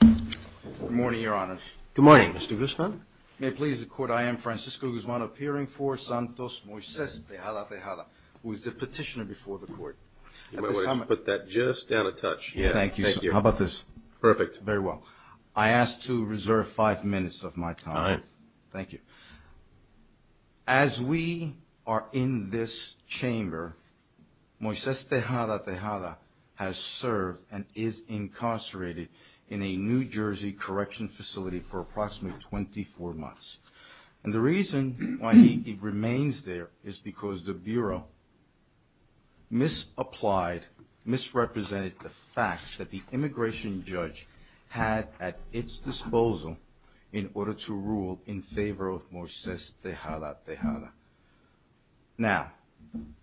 Good morning, Your Honors. Good morning, Mr. Guzman. May it please the Court, I am Francisco Guzman, appearing for Santos Moises Tejada Tejada, who is the petitioner before the Court. You might want to put that just down a touch. Thank you, sir. How about this? Perfect. Very well. I ask to reserve five minutes of my time. Thank you. As we are in this chamber, Moises Tejada Tejada has served and is incarcerated in a New Jersey correction facility for approximately 24 months. And the reason why he remains there is because the Bureau misapplied, misrepresented the immigration judge had at its disposal in order to rule in favor of Moises Tejada Tejada. Now,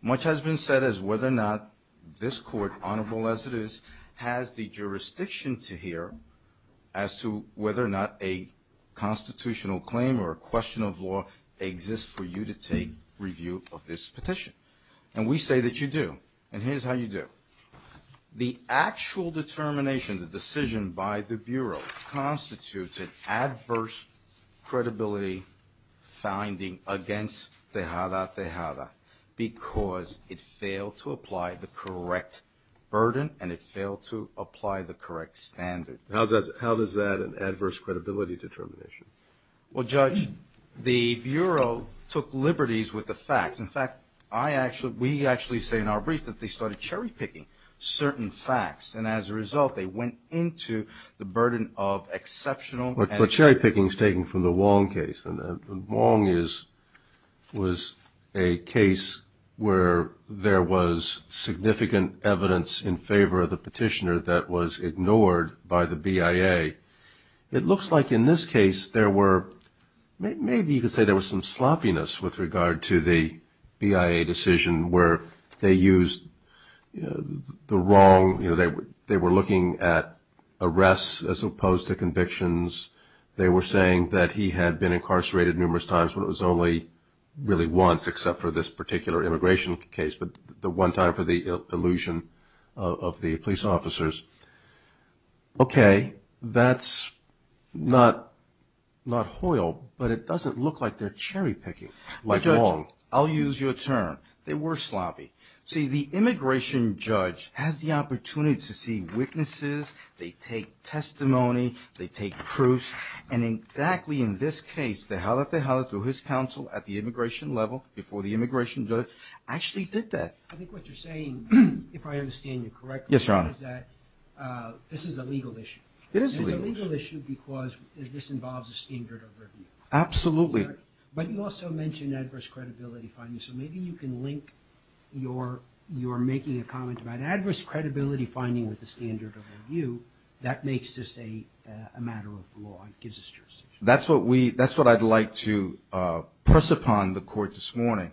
much has been said as whether or not this Court, honorable as it is, has the jurisdiction to hear as to whether or not a constitutional claim or a question of law exists for you to take review of this petition. And we say that you do. And here's how you do. The actual determination, the decision by the Bureau, constitutes an adverse credibility finding against Tejada Tejada because it failed to apply the correct burden and it failed to apply the correct standard. How is that an adverse credibility determination? Well, Judge, the Bureau took liberties with the facts. In fact, I actually, we actually say in our brief that they started cherry-picking certain facts and as a result, they went into the burden of exceptional. But cherry-picking is taken from the Wong case and Wong is, was a case where there was significant evidence in favor of the petitioner that was ignored by the BIA. It looks like in this case, there were, maybe you could say there was some sloppiness with regard to the BIA decision where they used the wrong, you know, they were looking at arrests as opposed to convictions. They were saying that he had been incarcerated numerous times, but it was only really once except for this particular immigration case, but the one time for the illusion of the police officers. Okay, that's not, not hoiled, but it doesn't look like they're cherry-picking like Wong. Judge, I'll use your term. They were sloppy. See, the immigration judge has the opportunity to see witnesses, they take testimony, they take proofs, and exactly in this case, Tejada Tejada through his counsel at the immigration level before the immigration judge actually did that. I think what you're saying, if I understand you correctly, is that this is a legal issue. It is a legal issue. It's a legal issue because this involves a standard of review. Absolutely. But you also mentioned adverse credibility findings, so maybe you can link your, your making a comment about adverse credibility finding with the standard of review that makes this a matter of law and gives us jurisdiction. That's what we, that's what I'd like to press upon the court this morning,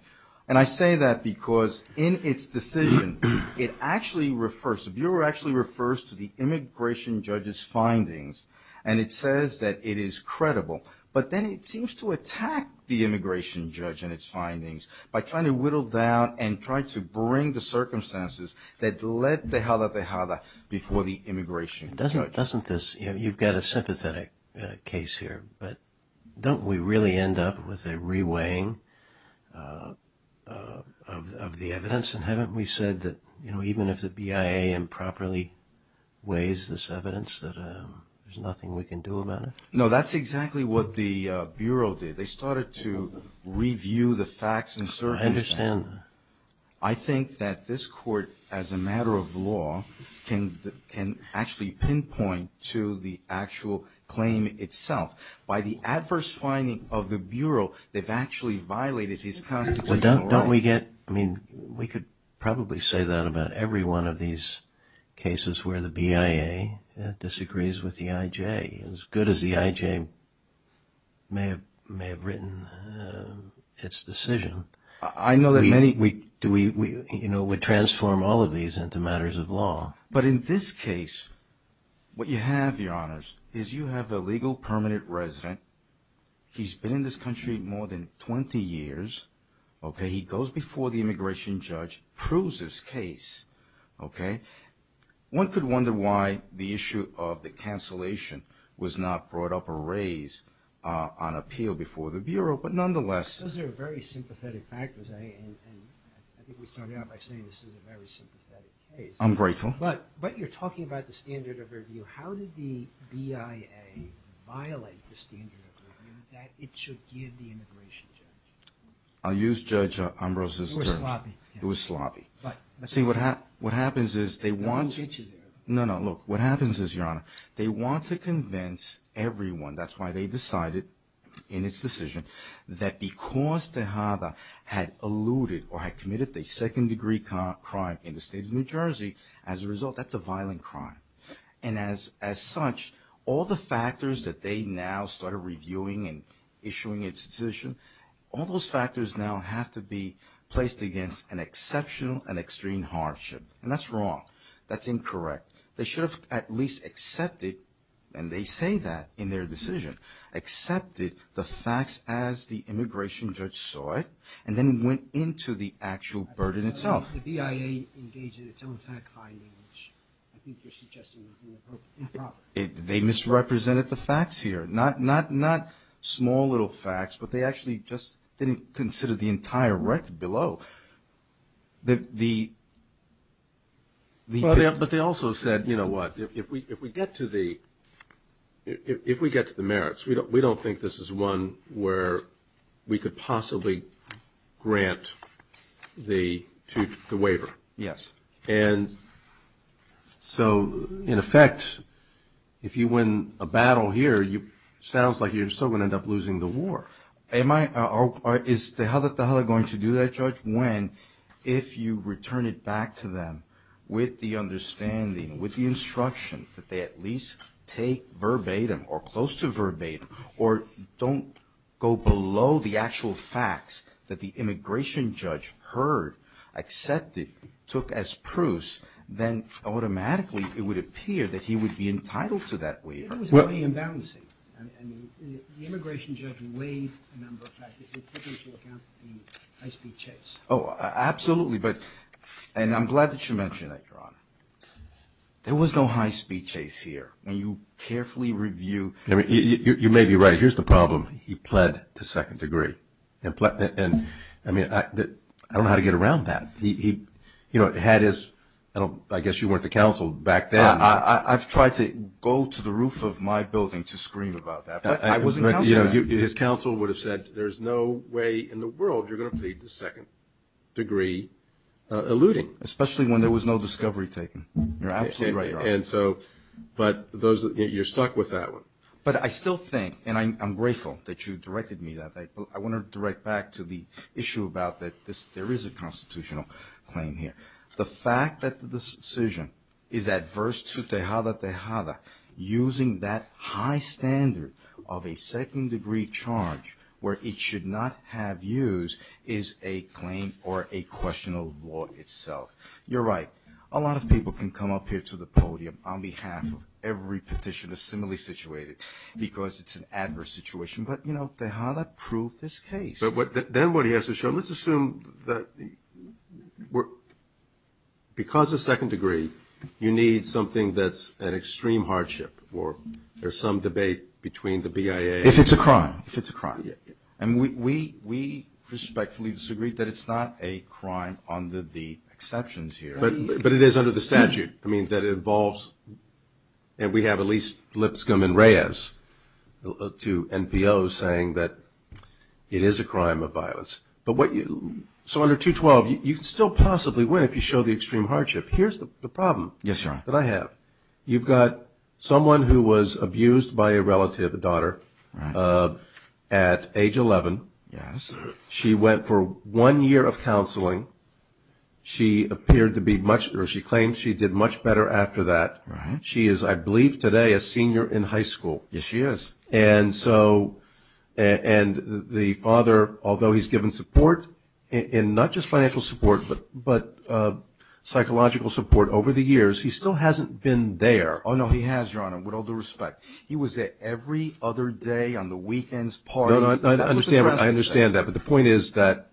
and I say that because in its decision, it actually refers, the Bureau actually refers to the immigration judge's findings, and it says that it is credible. But then it seems to attack the immigration judge and its findings by trying to whittle down and trying to bring the circumstances that led Tejada Tejada before the immigration judge. Doesn't, doesn't this, you know, you've got a sympathetic case here, but don't we really end up with a re-weighing of, of the evidence, and haven't we said that, you know, even if the BIA improperly weighs this evidence, that there's nothing we can do about it? No, that's exactly what the Bureau did. They started to review the facts and circumstances. I understand. I think that this court, as a matter of law, can, can actually pinpoint to the actual claim itself. By the adverse finding of the Bureau, they've actually violated his constitutional right. But don't, don't we get, I mean, we could probably say that about every one of these cases where the BIA disagrees with the IJ, as good as the IJ may have, may have written its decision. I know that many... We, we, do we, we, you know, would transform all of these into matters of law. But in this case, what you have, Your Honors, is you have a legal permanent resident. He's been in this country more than 20 years, okay? He goes before the immigration judge, proves his case, okay? One could wonder why the issue of the cancellation was not brought up or raised on appeal before the Bureau, but nonetheless... Those are very sympathetic factors. I, and, and I think we started out by saying this is a very sympathetic case. I'm grateful. But, but you're talking about the standard of review. How did the BIA violate the standard of review that it should give the immigration judge? I'll use Judge Ambrose's terms. It was sloppy. It was sloppy. But, but... See, what happens, what happens is they want... They won't get you there. No, no, look. What happens is, Your Honor, they want to convince everyone, that's why they decided in its decision, that because Tejada had alluded or had committed a second degree crime in the state of New Jersey, as a result, that's a violent crime. And as, as such, all the factors that they now started reviewing and issuing its decision, all those factors now have to be placed against an exceptional and extreme hardship. And that's wrong. That's incorrect. They should have at least accepted, and they say that in their decision, accepted the facts as the immigration judge saw it, and then went into the actual burden itself. The BIA engaged in its own fact-finding, which I think you're suggesting is inappropriate. They misrepresented the facts here, not, not, not small little facts, but they actually just didn't consider the entire record below. The, the, the... But they also said, you know what, if we, if we get to the, if we get to the merits, we don't, we don't think this is one where we could possibly grant the, to, the waiver. Yes. And so, in effect, if you win a battle here, you, sounds like you're still going to end up losing the war. Am I, or is Tejada Tejada going to do that, Judge, when, if you return it back to them with the understanding, with the instruction that they at least take verbatim, or close to verbatim, or don't go below the actual facts that the immigration judge heard, accepted, took as proofs, then automatically it would appear that he would be entitled to that waiver. It was only imbalancing. I mean, the immigration judge weighs a number of factors. It took into account the high-speed chase. Oh, absolutely. But, and I'm glad that you mentioned that, Your Honor. There was no high-speed chase here. And you carefully review. I mean, you may be right. Here's the problem. He pled to second degree. And, I mean, I don't know how to get around that. He, you know, had his, I don't, I guess you weren't the counsel back then. I've tried to go to the roof of my building to scream about that, but I wasn't counsel back then. You know, his counsel would have said, there's no way in the world you're going to plead to second degree alluding. You're stuck with that one. But I still think, and I'm grateful that you directed me that way, but I want to direct back to the issue about that there is a constitutional claim here. The fact that this decision is adverse to Tejada Tejada using that high standard of a second degree charge where it should not have used is a claim or a question of law itself. You're right. But a lot of people can come up here to the podium on behalf of every petitioner similarly situated because it's an adverse situation, but, you know, Tejada proved this case. But then what he has to show, let's assume that because of second degree, you need something that's an extreme hardship or there's some debate between the BIA. If it's a crime. If it's a crime. Yeah. And we respectfully disagree that it's not a crime under the exceptions here. But it is under the statute. I mean, that it involves, and we have at least Lipscomb and Reyes, two NPOs saying that it is a crime of violence. But what you, so under 212, you can still possibly win if you show the extreme hardship. Here's the problem. Yes, sir. That I have. You've got someone who was abused by a relative, a daughter, at age 11. Yes. She went for one year of counseling. She appeared to be much, or she claimed she did much better after that. She is, I believe today, a senior in high school. Yes, she is. And so, and the father, although he's given support, and not just financial support, but psychological support over the years, he still hasn't been there. Oh, no, he has, Your Honor, with all due respect. He was there every other day on the weekends, parties. No, no, I understand that, but the point is that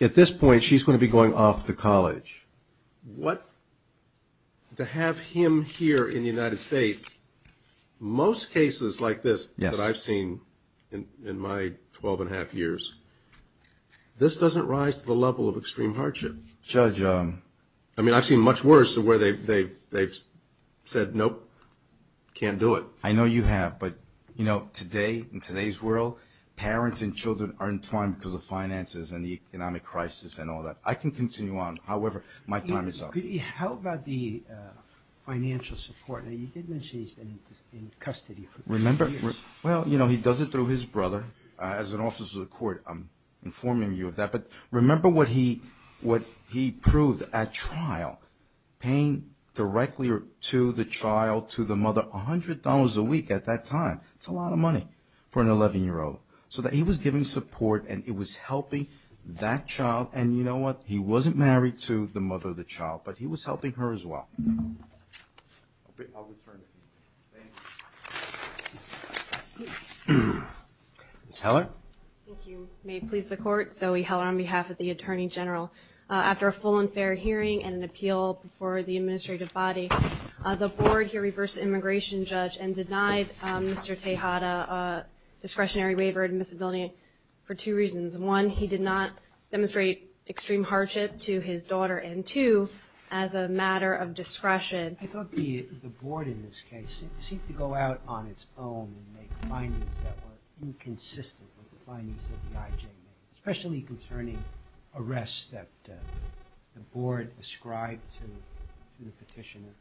at this point, she's going to be going off to college. What, to have him here in the United States, most cases like this that I've seen in my 12 and a half years, this doesn't rise to the level of extreme hardship. Judge. I mean, I've seen much worse where they've said, nope, can't do it. I know you have, but you know, today, in today's world, parents and children are entwined because of finances and the economic crisis and all that. I can continue on, however, my time is up. How about the financial support? Now, you did mention he's been in custody for two years. Remember, well, you know, he does it through his brother. As an officer of the court, I'm informing you of that, but remember what he proved at trial, paying directly to the child, to the mother, $100 a week at that time, it's a lot of money for an 11-year-old. So that he was giving support and it was helping that child. And you know what? He wasn't married to the mother of the child, but he was helping her as well. I'll return it to you, thank you. Ms. Heller. Thank you. May it please the court, Zoe Heller on behalf of the Attorney General. After a full and fair hearing and an appeal before the administrative body, the board here reversed the immigration judge and denied Mr. Tejada a discretionary waiver of admissibility for two reasons. One, he did not demonstrate extreme hardship to his daughter, and two, as a matter of discretion. I thought the board in this case seemed to go out on its own and make findings that were inconsistent with the findings that the IJ made. Especially concerning arrests that the board ascribed to the petitioner,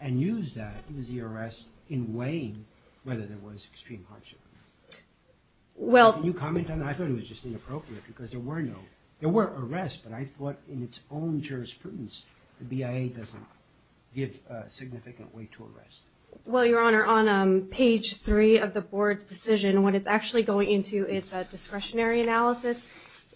and used that as the arrest in weighing whether there was extreme hardship. Well – Can you comment on that? I thought it was just inappropriate because there were no – there were arrests, but I thought in its own jurisprudence the BIA doesn't give a significant weight to arrests. Well Your Honor, on page three of the board's decision, what it's actually going into is a discretionary analysis.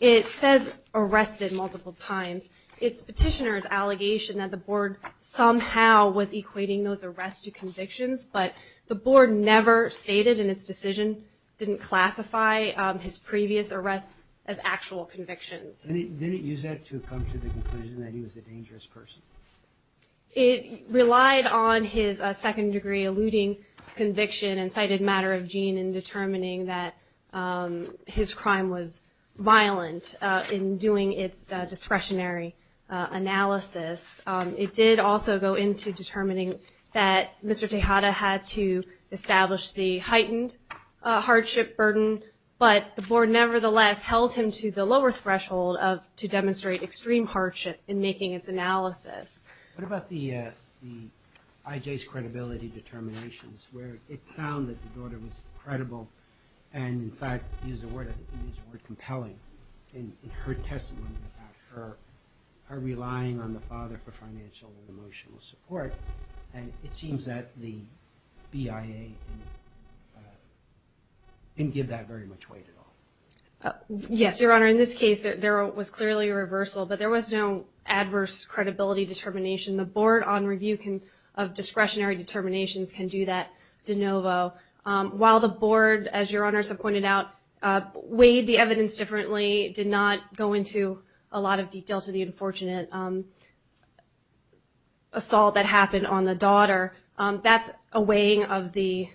It says arrested multiple times. It's petitioner's allegation that the board somehow was equating those arrests to convictions, but the board never stated in its decision, didn't classify his previous arrests as actual convictions. And it didn't use that to come to the conclusion that he was a dangerous person? It relied on his second-degree eluding conviction and cited matter of gene in determining that his crime was violent in doing its discretionary analysis. It did also go into determining that Mr. Tejada had to establish the heightened hardship burden, but the board nevertheless held him to the lower threshold of to demonstrate extreme hardship in making its analysis. What about the IJ's credibility determinations, where it found that the daughter was credible and in fact, used the word compelling in her testimony about her relying on the father for financial and emotional support, and it seems that the BIA didn't give that very much weight at all. Yes, Your Honor. In this case, there was clearly a reversal, but there was no adverse credibility determination. The board on review of discretionary determinations can do that de novo. While the board, as Your Honors have pointed out, weighed the evidence differently, did not go into a lot of detail to the unfortunate assault that happened on the daughter, that's a weighing of the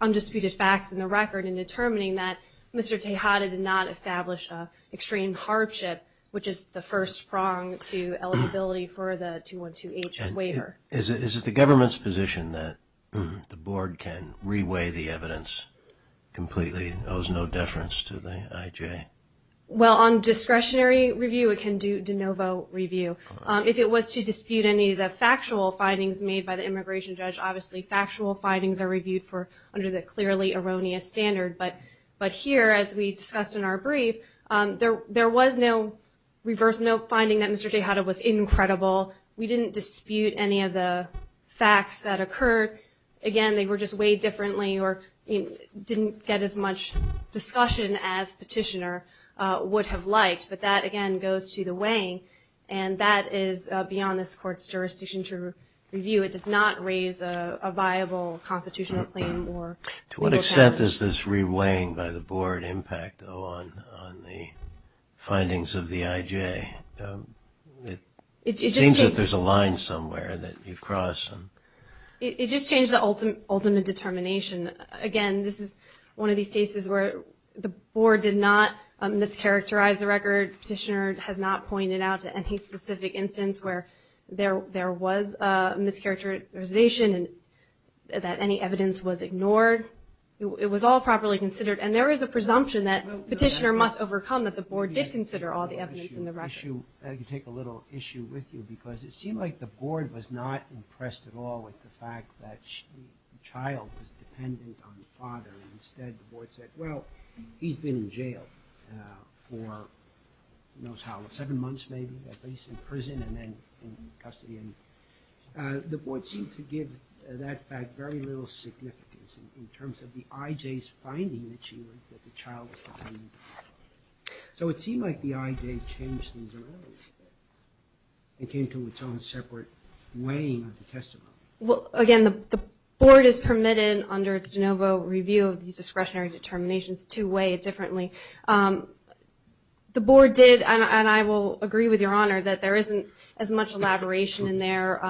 undisputed facts in the record in determining that Mr. Tejada did not establish extreme hardship, which is the first prong to eligibility for the 212H waiver. Is it the government's position that the board can reweigh the evidence completely, owes no deference to the IJ? Well, on discretionary review, it can do de novo review. If it was to dispute any of the factual findings made by the immigration judge, obviously factual findings are reviewed under the clearly erroneous standard. But here, as we discussed in our brief, there was no reverse note finding that Mr. Tejada was incredible. We didn't dispute any of the facts that occurred. Again, they were just weighed differently or didn't get as much discussion as petitioner would have liked. But that, again, goes to the weighing, and that is beyond this court's jurisdiction to review. It does not raise a viable constitutional claim or legal challenge. To what extent does this reweighing by the board impact, though, on the findings of the IJ? It seems that there's a line somewhere that you cross. It just changed the ultimate determination. Again, this is one of these cases where the board did not mischaracterize the record. Petitioner has not pointed out to any specific instance where there was a mischaracterization and that any evidence was ignored. It was all properly considered, and there is a presumption that petitioner must overcome that the board did consider all the evidence in the record. I can take a little issue with you because it seemed like the board was not impressed at all with the fact that the child was dependent on the father. Instead, the board said, well, he's been in jail for seven months, maybe, at least, in prison and then in custody. The board seemed to give that fact very little significance in terms of the IJ's finding that the child was dependent on the father. So it seemed like the IJ changed things around and came to its own separate weighing of the testimony. Well, again, the board is permitted under its de novo review of these discretionary determinations to weigh it differently. The board did, and I will agree with your honor, that there isn't as much elaboration in there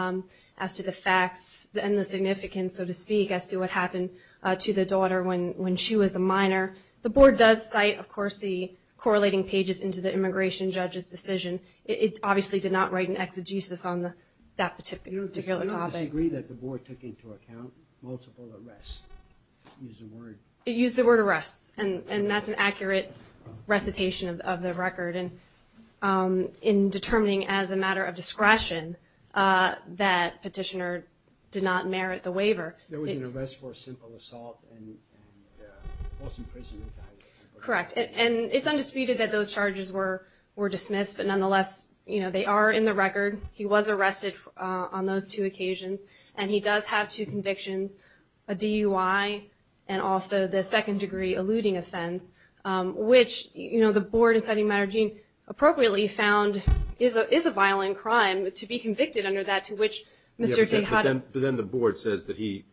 as to the facts and the significance, so to speak, as to what happened to the daughter when she was a minor. The board does cite, of course, the correlating pages into the immigration judge's decision. It obviously did not write an exegesis on that particular topic. I don't disagree that the board took into account multiple arrests, to use the word. It used the word arrests, and that's an accurate recitation of the record in determining, as a matter of discretion, that petitioner did not merit the waiver. There was an arrest for simple assault and false imprisonment. Correct. And it's undisputed that those charges were dismissed, but nonetheless, you know, they are in the record. He was arrested on those two occasions, and he does have two convictions, a DUI and also the second-degree eluding offense, which, you know, the board, inciting matter of gene, appropriately found is a violent crime to be convicted under that, to which Mr. Tejada But then the board says that he,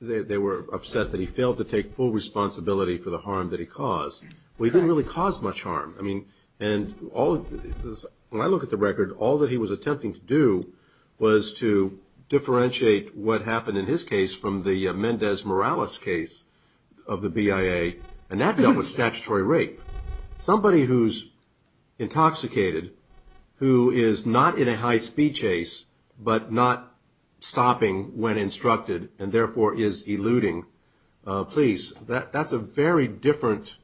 they were upset that he failed to take full responsibility for the harm that he caused. Correct. Well, he didn't really cause much harm. I mean, and all of this, when I look at the record, all that he was attempting to do was to differentiate what happened in his case from the Mendez Morales case of the BIA, and that dealt with statutory rape. Somebody who's intoxicated, who is not in a high-speed chase, but not stopping when instructed, and therefore is eluding police, that's a very different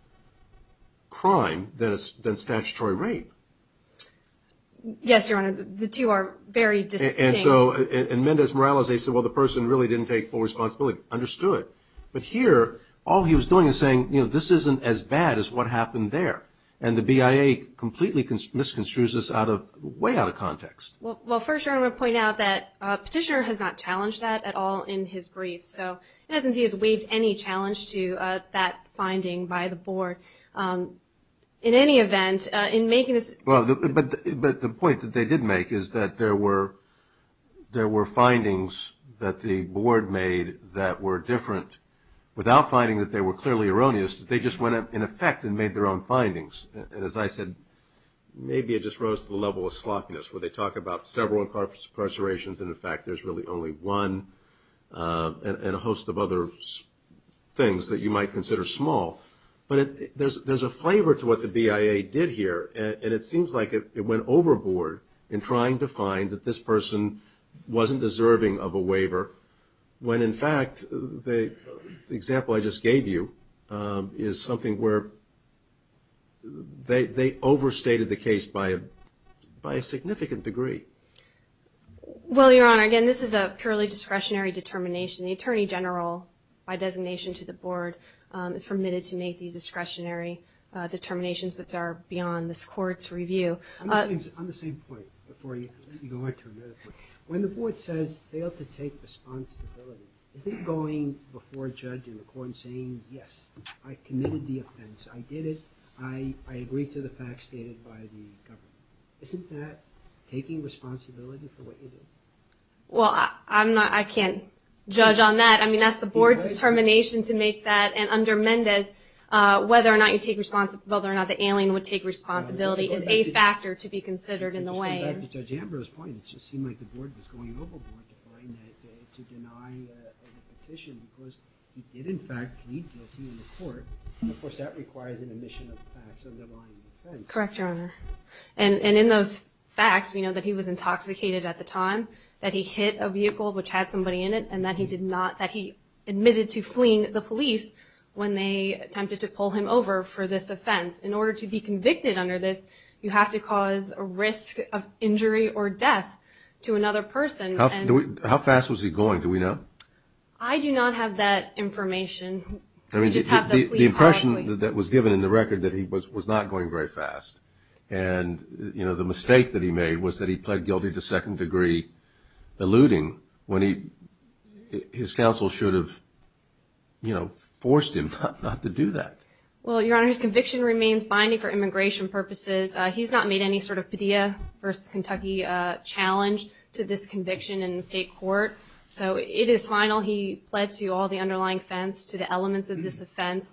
crime than statutory rape. Yes, Your Honor. The two are very distinct. And so in Mendez Morales, they said, well, the person really didn't take full responsibility. Understood. But here, all he was doing is saying, you know, this isn't as bad as what happened there. And the BIA completely misconstrues this out of, way out of context. Well, first, Your Honor, I want to point out that Petitioner has not challenged that at all in his brief. So in essence, he has waived any challenge to that finding by the board. In any event, in making this – Well, but the point that they did make is that there were findings that the board made that were different. Without finding that they were clearly erroneous, they just went in effect and made their own findings. And as I said, maybe it just rose to the level of sloppiness where they talk about several incarcerations and, in fact, there's really only one and a host of other things that you might consider small. But there's a flavor to what the BIA did here, and it seems like it went overboard in trying to find that this person wasn't deserving of a waiver, when, in fact, the example I just gave you is something where they overstated the case by a significant degree. Well, Your Honor, again, this is a purely discretionary determination. The Attorney General, by designation to the board, is permitted to make these discretionary determinations that are beyond this Court's review. On the same point, before you go into another point, when the board says, fail to take responsibility, is it going before a judge in the court and saying, yes, I committed the offense, I did it, I agree to the facts stated by the government? Isn't that taking responsibility for what you did? Well, I can't judge on that. I mean, that's the board's determination to make that. And under Mendez, whether or not the alien would take responsibility is a factor to be considered in the way. To go back to Judge Ambrose's point, it just seemed like the board was going overboard to deny a petition because he did, in fact, plead guilty in the court. And, of course, that requires an omission of facts underlying the offense. Correct, Your Honor. And in those facts, we know that he was intoxicated at the time, that he hit a vehicle which had somebody in it, and that he admitted to fleeing the police when they attempted to pull him over for this offense. In order to be convicted under this, you have to cause a risk of injury or death to another person. How fast was he going, do we know? I do not have that information. I mean, the impression that was given in the record that he was not going very fast. And, you know, the mistake that he made was that he pled guilty to second degree eluding when his counsel should have, you know, forced him not to do that. Well, Your Honor, his conviction remains binding for immigration purposes. He's not made any sort of Padilla v. Kentucky challenge to this conviction in the state court. So it is final. He pled to all the underlying offense, to the elements of this offense.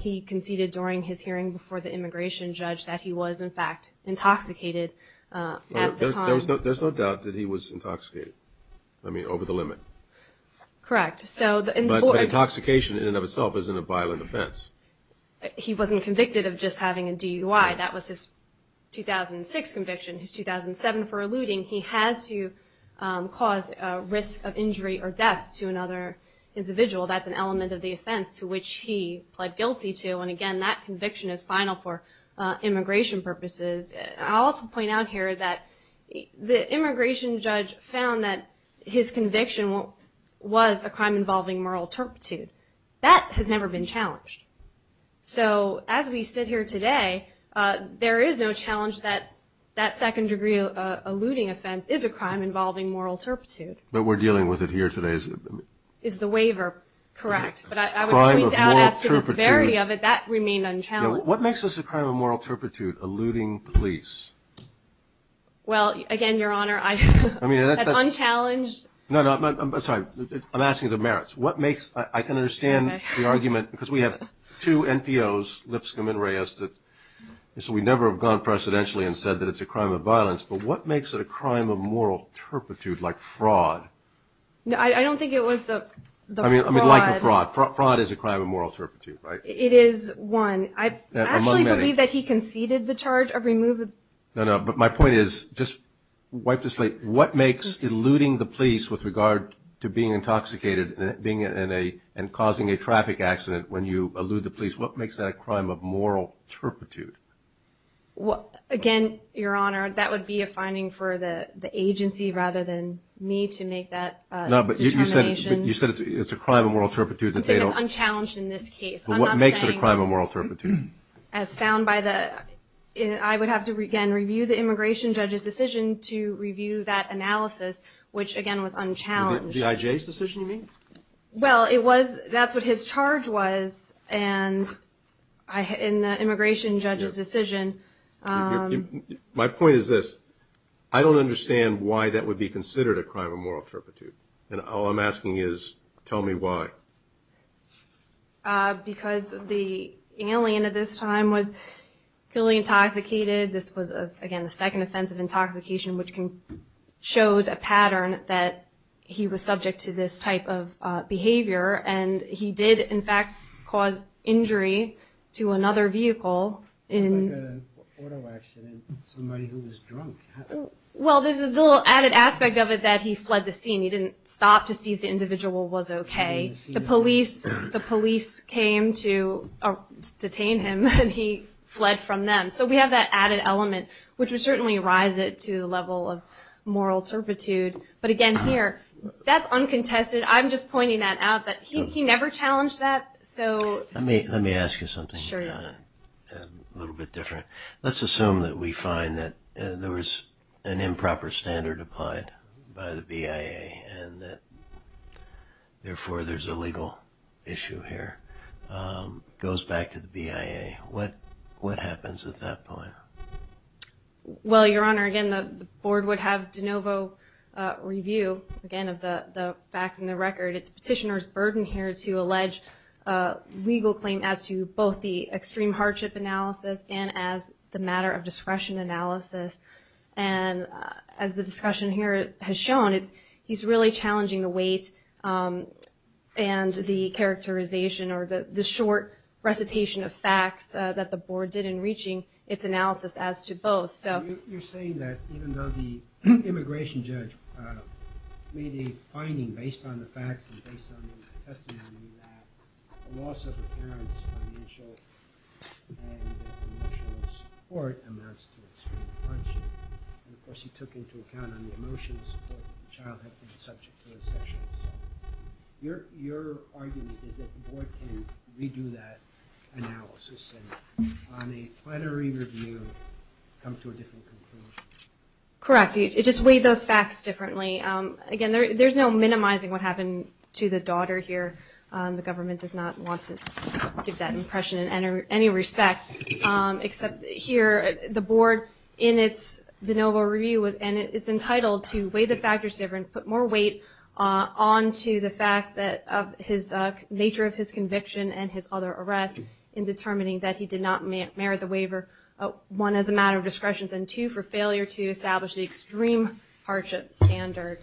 He conceded during his hearing before the immigration judge that he was, in fact, intoxicated at the time. There's no doubt that he was intoxicated. I mean, over the limit. Correct. But intoxication in and of itself isn't a violent offense. He wasn't convicted of just having a DUI. That was his 2006 conviction. His 2007 for eluding, he had to cause a risk of injury or death to another individual. That's an element of the offense to which he pled guilty to. And, again, that conviction is final for immigration purposes. I'll also point out here that the immigration judge found that his conviction was a crime involving moral turpitude. That has never been challenged. So as we sit here today, there is no challenge that that second degree eluding offense is a crime involving moral turpitude. But we're dealing with it here today. Is the waiver correct? But I would point out as to the severity of it, that remained unchallenged. What makes this a crime of moral turpitude, eluding police? Well, again, Your Honor, that's unchallenged. No, no. I'm sorry. I'm asking you the merits. I can understand the argument because we have two NPOs, Lipscomb and Reyes. So we never have gone precedentially and said that it's a crime of violence. But what makes it a crime of moral turpitude, like fraud? No, I don't think it was the fraud. I mean, like a fraud. Fraud is a crime of moral turpitude, right? It is one. Among many. I actually believe that he conceded the charge of removing. No, no. But my point is, just wipe the slate, what makes eluding the police with regard to being intoxicated and causing a traffic accident when you elude the police, what makes that a crime of moral turpitude? Again, Your Honor, that would be a finding for the agency rather than me to make that determination. No, but you said it's a crime of moral turpitude. I'm saying it's unchallenged in this case. But what makes it a crime of moral turpitude? As found by the – I would have to, again, review the immigration judge's decision to review that analysis, which, again, was unchallenged. The IJ's decision, you mean? Well, it was – that's what his charge was. And in the immigration judge's decision – My point is this. I don't understand why that would be considered a crime of moral turpitude. And all I'm asking is tell me why. Because the alien at this time was feeling intoxicated. This was, again, the second offense of intoxication, and he did, in fact, cause injury to another vehicle. It was like an auto accident, somebody who was drunk. Well, there's a little added aspect of it that he fled the scene. He didn't stop to see if the individual was okay. The police came to detain him, and he fled from them. So we have that added element, which would certainly rise it to the level of moral turpitude. But, again, here, that's uncontested. I'm just pointing that out that he never challenged that. Let me ask you something a little bit different. Let's assume that we find that there was an improper standard applied by the BIA and that, therefore, there's a legal issue here. It goes back to the BIA. What happens at that point? Well, Your Honor, again, the board would have de novo review, again, of the facts and the record. It's petitioner's burden here to allege legal claim as to both the extreme hardship analysis and as the matter of discretion analysis. And as the discussion here has shown, he's really challenging the weight and the characterization or the short recitation of facts that the board did in reaching its analysis as to both. You're saying that even though the immigration judge made a finding based on the facts and based on the testimony that the loss of the parent's financial and emotional support amounts to extreme hardship. And, of course, he took into account on the emotional support that the child had been subject to his sexual assault. Your argument is that the board can redo that analysis and on a plenary review come to a different conclusion. Correct. It just weighed those facts differently. Again, there's no minimizing what happened to the daughter here. The government does not want to give that impression in any respect, except here the board in its de novo review and it's entitled to weigh the factors different, put more weight on to the fact that his nature of his conviction and his other arrests in determining that he did not merit the waiver, one, as a matter of discretion, and two, for failure to establish the extreme hardship standard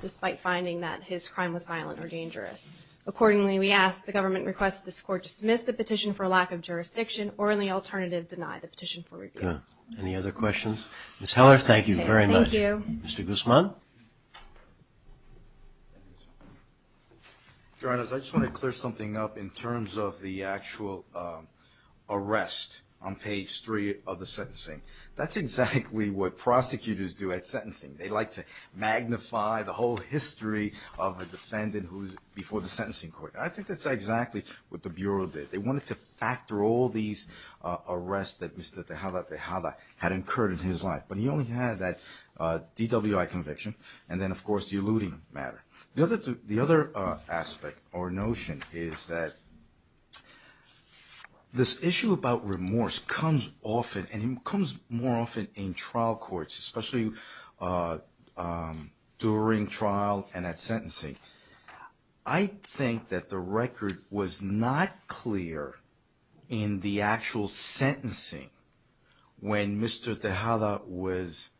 despite finding that his crime was violent or dangerous. Accordingly, we ask the government request this court dismiss the petition for lack of jurisdiction or in the alternative deny the petition for review. Any other questions? Ms. Heller, thank you very much. Thank you. Mr. Guzman. Your Honors, I just want to clear something up in terms of the actual arrest on page three of the sentencing. That's exactly what prosecutors do at sentencing. They like to magnify the whole history of a defendant before the sentencing court. I think that's exactly what the Bureau did. They wanted to factor all these arrests that Mr. Tejada had incurred in his life, but he only had that DWI conviction and then, of course, the eluding matter. The other aspect or notion is that this issue about remorse comes often and it comes more often in trial courts, especially during trial and at sentencing. I think that the record was not clear in the actual sentencing when Mr. Tejada was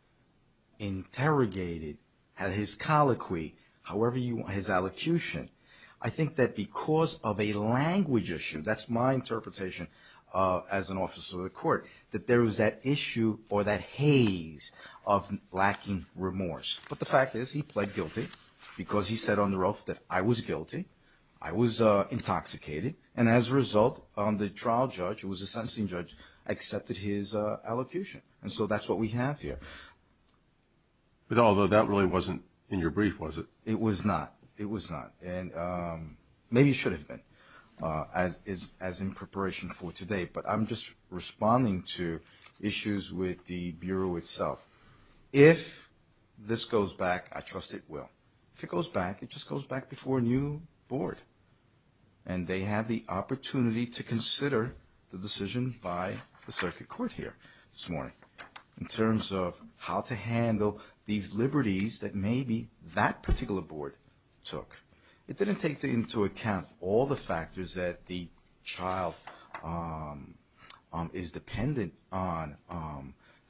interrogated at his colloquy, however you want, his allocution. I think that because of a language issue, that's my interpretation as an officer of the court, that there was that issue or that haze of lacking remorse. But the fact is he pled guilty because he said on the roof that, I was guilty, I was intoxicated, and as a result, the trial judge, who was a sentencing judge, accepted his allocution. And so that's what we have here. Although that really wasn't in your brief, was it? It was not. It was not. Maybe it should have been as in preparation for today, but I'm just responding to issues with the Bureau itself. If this goes back, I trust it will. If it goes back, it just goes back before a new board and they have the opportunity to consider the decision by the circuit court here this morning in terms of how to handle these liberties that maybe that particular board took. It didn't take into account all the factors that the child is dependent on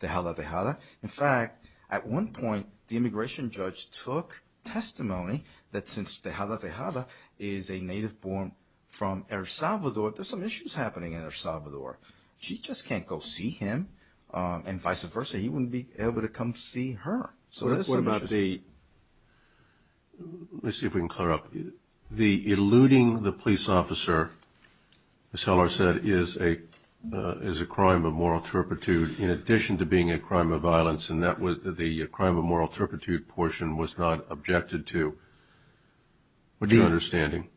Tejada Tejada. In fact, at one point, the immigration judge took testimony that since Tejada Tejada is a native born from El Salvador, there's some issues happening in El Salvador. She just can't go see him and vice versa. He wouldn't be able to come see her. What about the – let's see if we can clear up. The eluding the police officer, as Heller said, is a crime of moral turpitude in addition to being a crime of violence, and the crime of moral turpitude portion was not objected to. What's your understanding?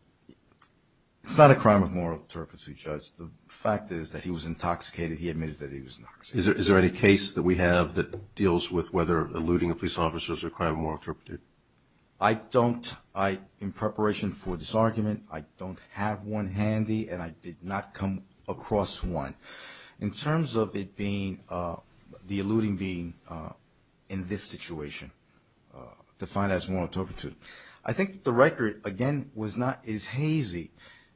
It's not a crime of moral turpitude, Judge. The fact is that he was intoxicated. He admitted that he was intoxicated. Is there any case that we have that deals with whether eluding a police officer is a crime of moral turpitude? I don't. In preparation for this argument, I don't have one handy, and I did not come across one. In terms of it being – the eluding being in this situation defined as moral turpitude, I think the record, again, was not as hazy.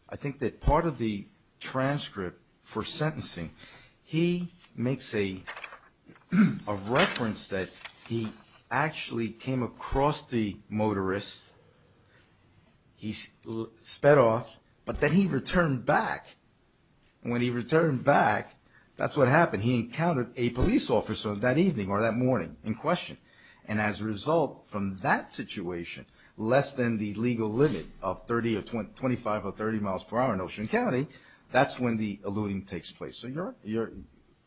I think that part of the transcript for sentencing, he makes a reference that he actually came across the motorist. He sped off, but then he returned back. When he returned back, that's what happened. He encountered a police officer that evening or that morning in question, and as a result from that situation, less than the legal limit of 30 or 25 or 30 miles per hour in Ocean County, that's when the eluding takes place. So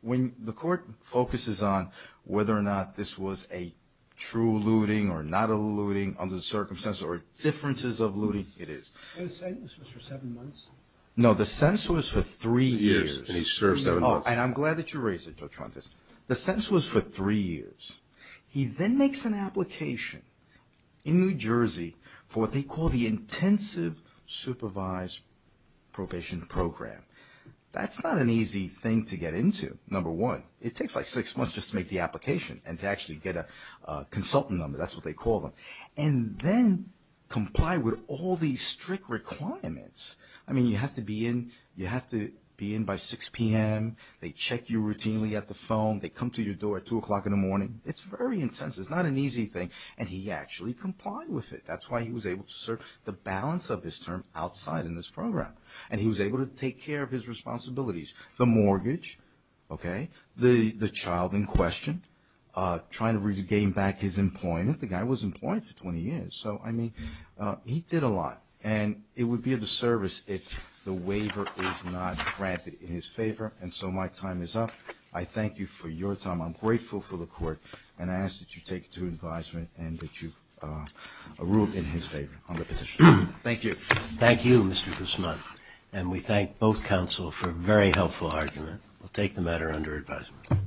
when the court focuses on whether or not this was a true eluding or not eluding under the circumstances or differences of eluding, it is. And the sentence was for seven months? No, the sentence was for three years. And he served seven months. Oh, and I'm glad that you raised it, Jotrantis. The sentence was for three years. He then makes an application in New Jersey for what they call the intensive supervised probation program. That's not an easy thing to get into, number one. It takes like six months just to make the application and to actually get a consultant number. That's what they call them. And then comply with all these strict requirements. I mean, you have to be in by 6 p.m. They check you routinely at the phone. They come to your door at 2 o'clock in the morning. It's very intense. It's not an easy thing, and he actually complied with it. That's why he was able to serve the balance of his term outside in this program, and he was able to take care of his responsibilities, the mortgage, okay, the child in question, trying to regain back his employment. The guy was employed for 20 years, so, I mean, he did a lot. And it would be a disservice if the waiver is not granted in his favor. And so my time is up. I thank you for your time. I'm grateful for the court, and I ask that you take it to advisement and that you rule it in his favor on the petition. Thank you. Thank you, Mr. Guzman. And we thank both counsel for a very helpful argument. We'll take the matter under advisement.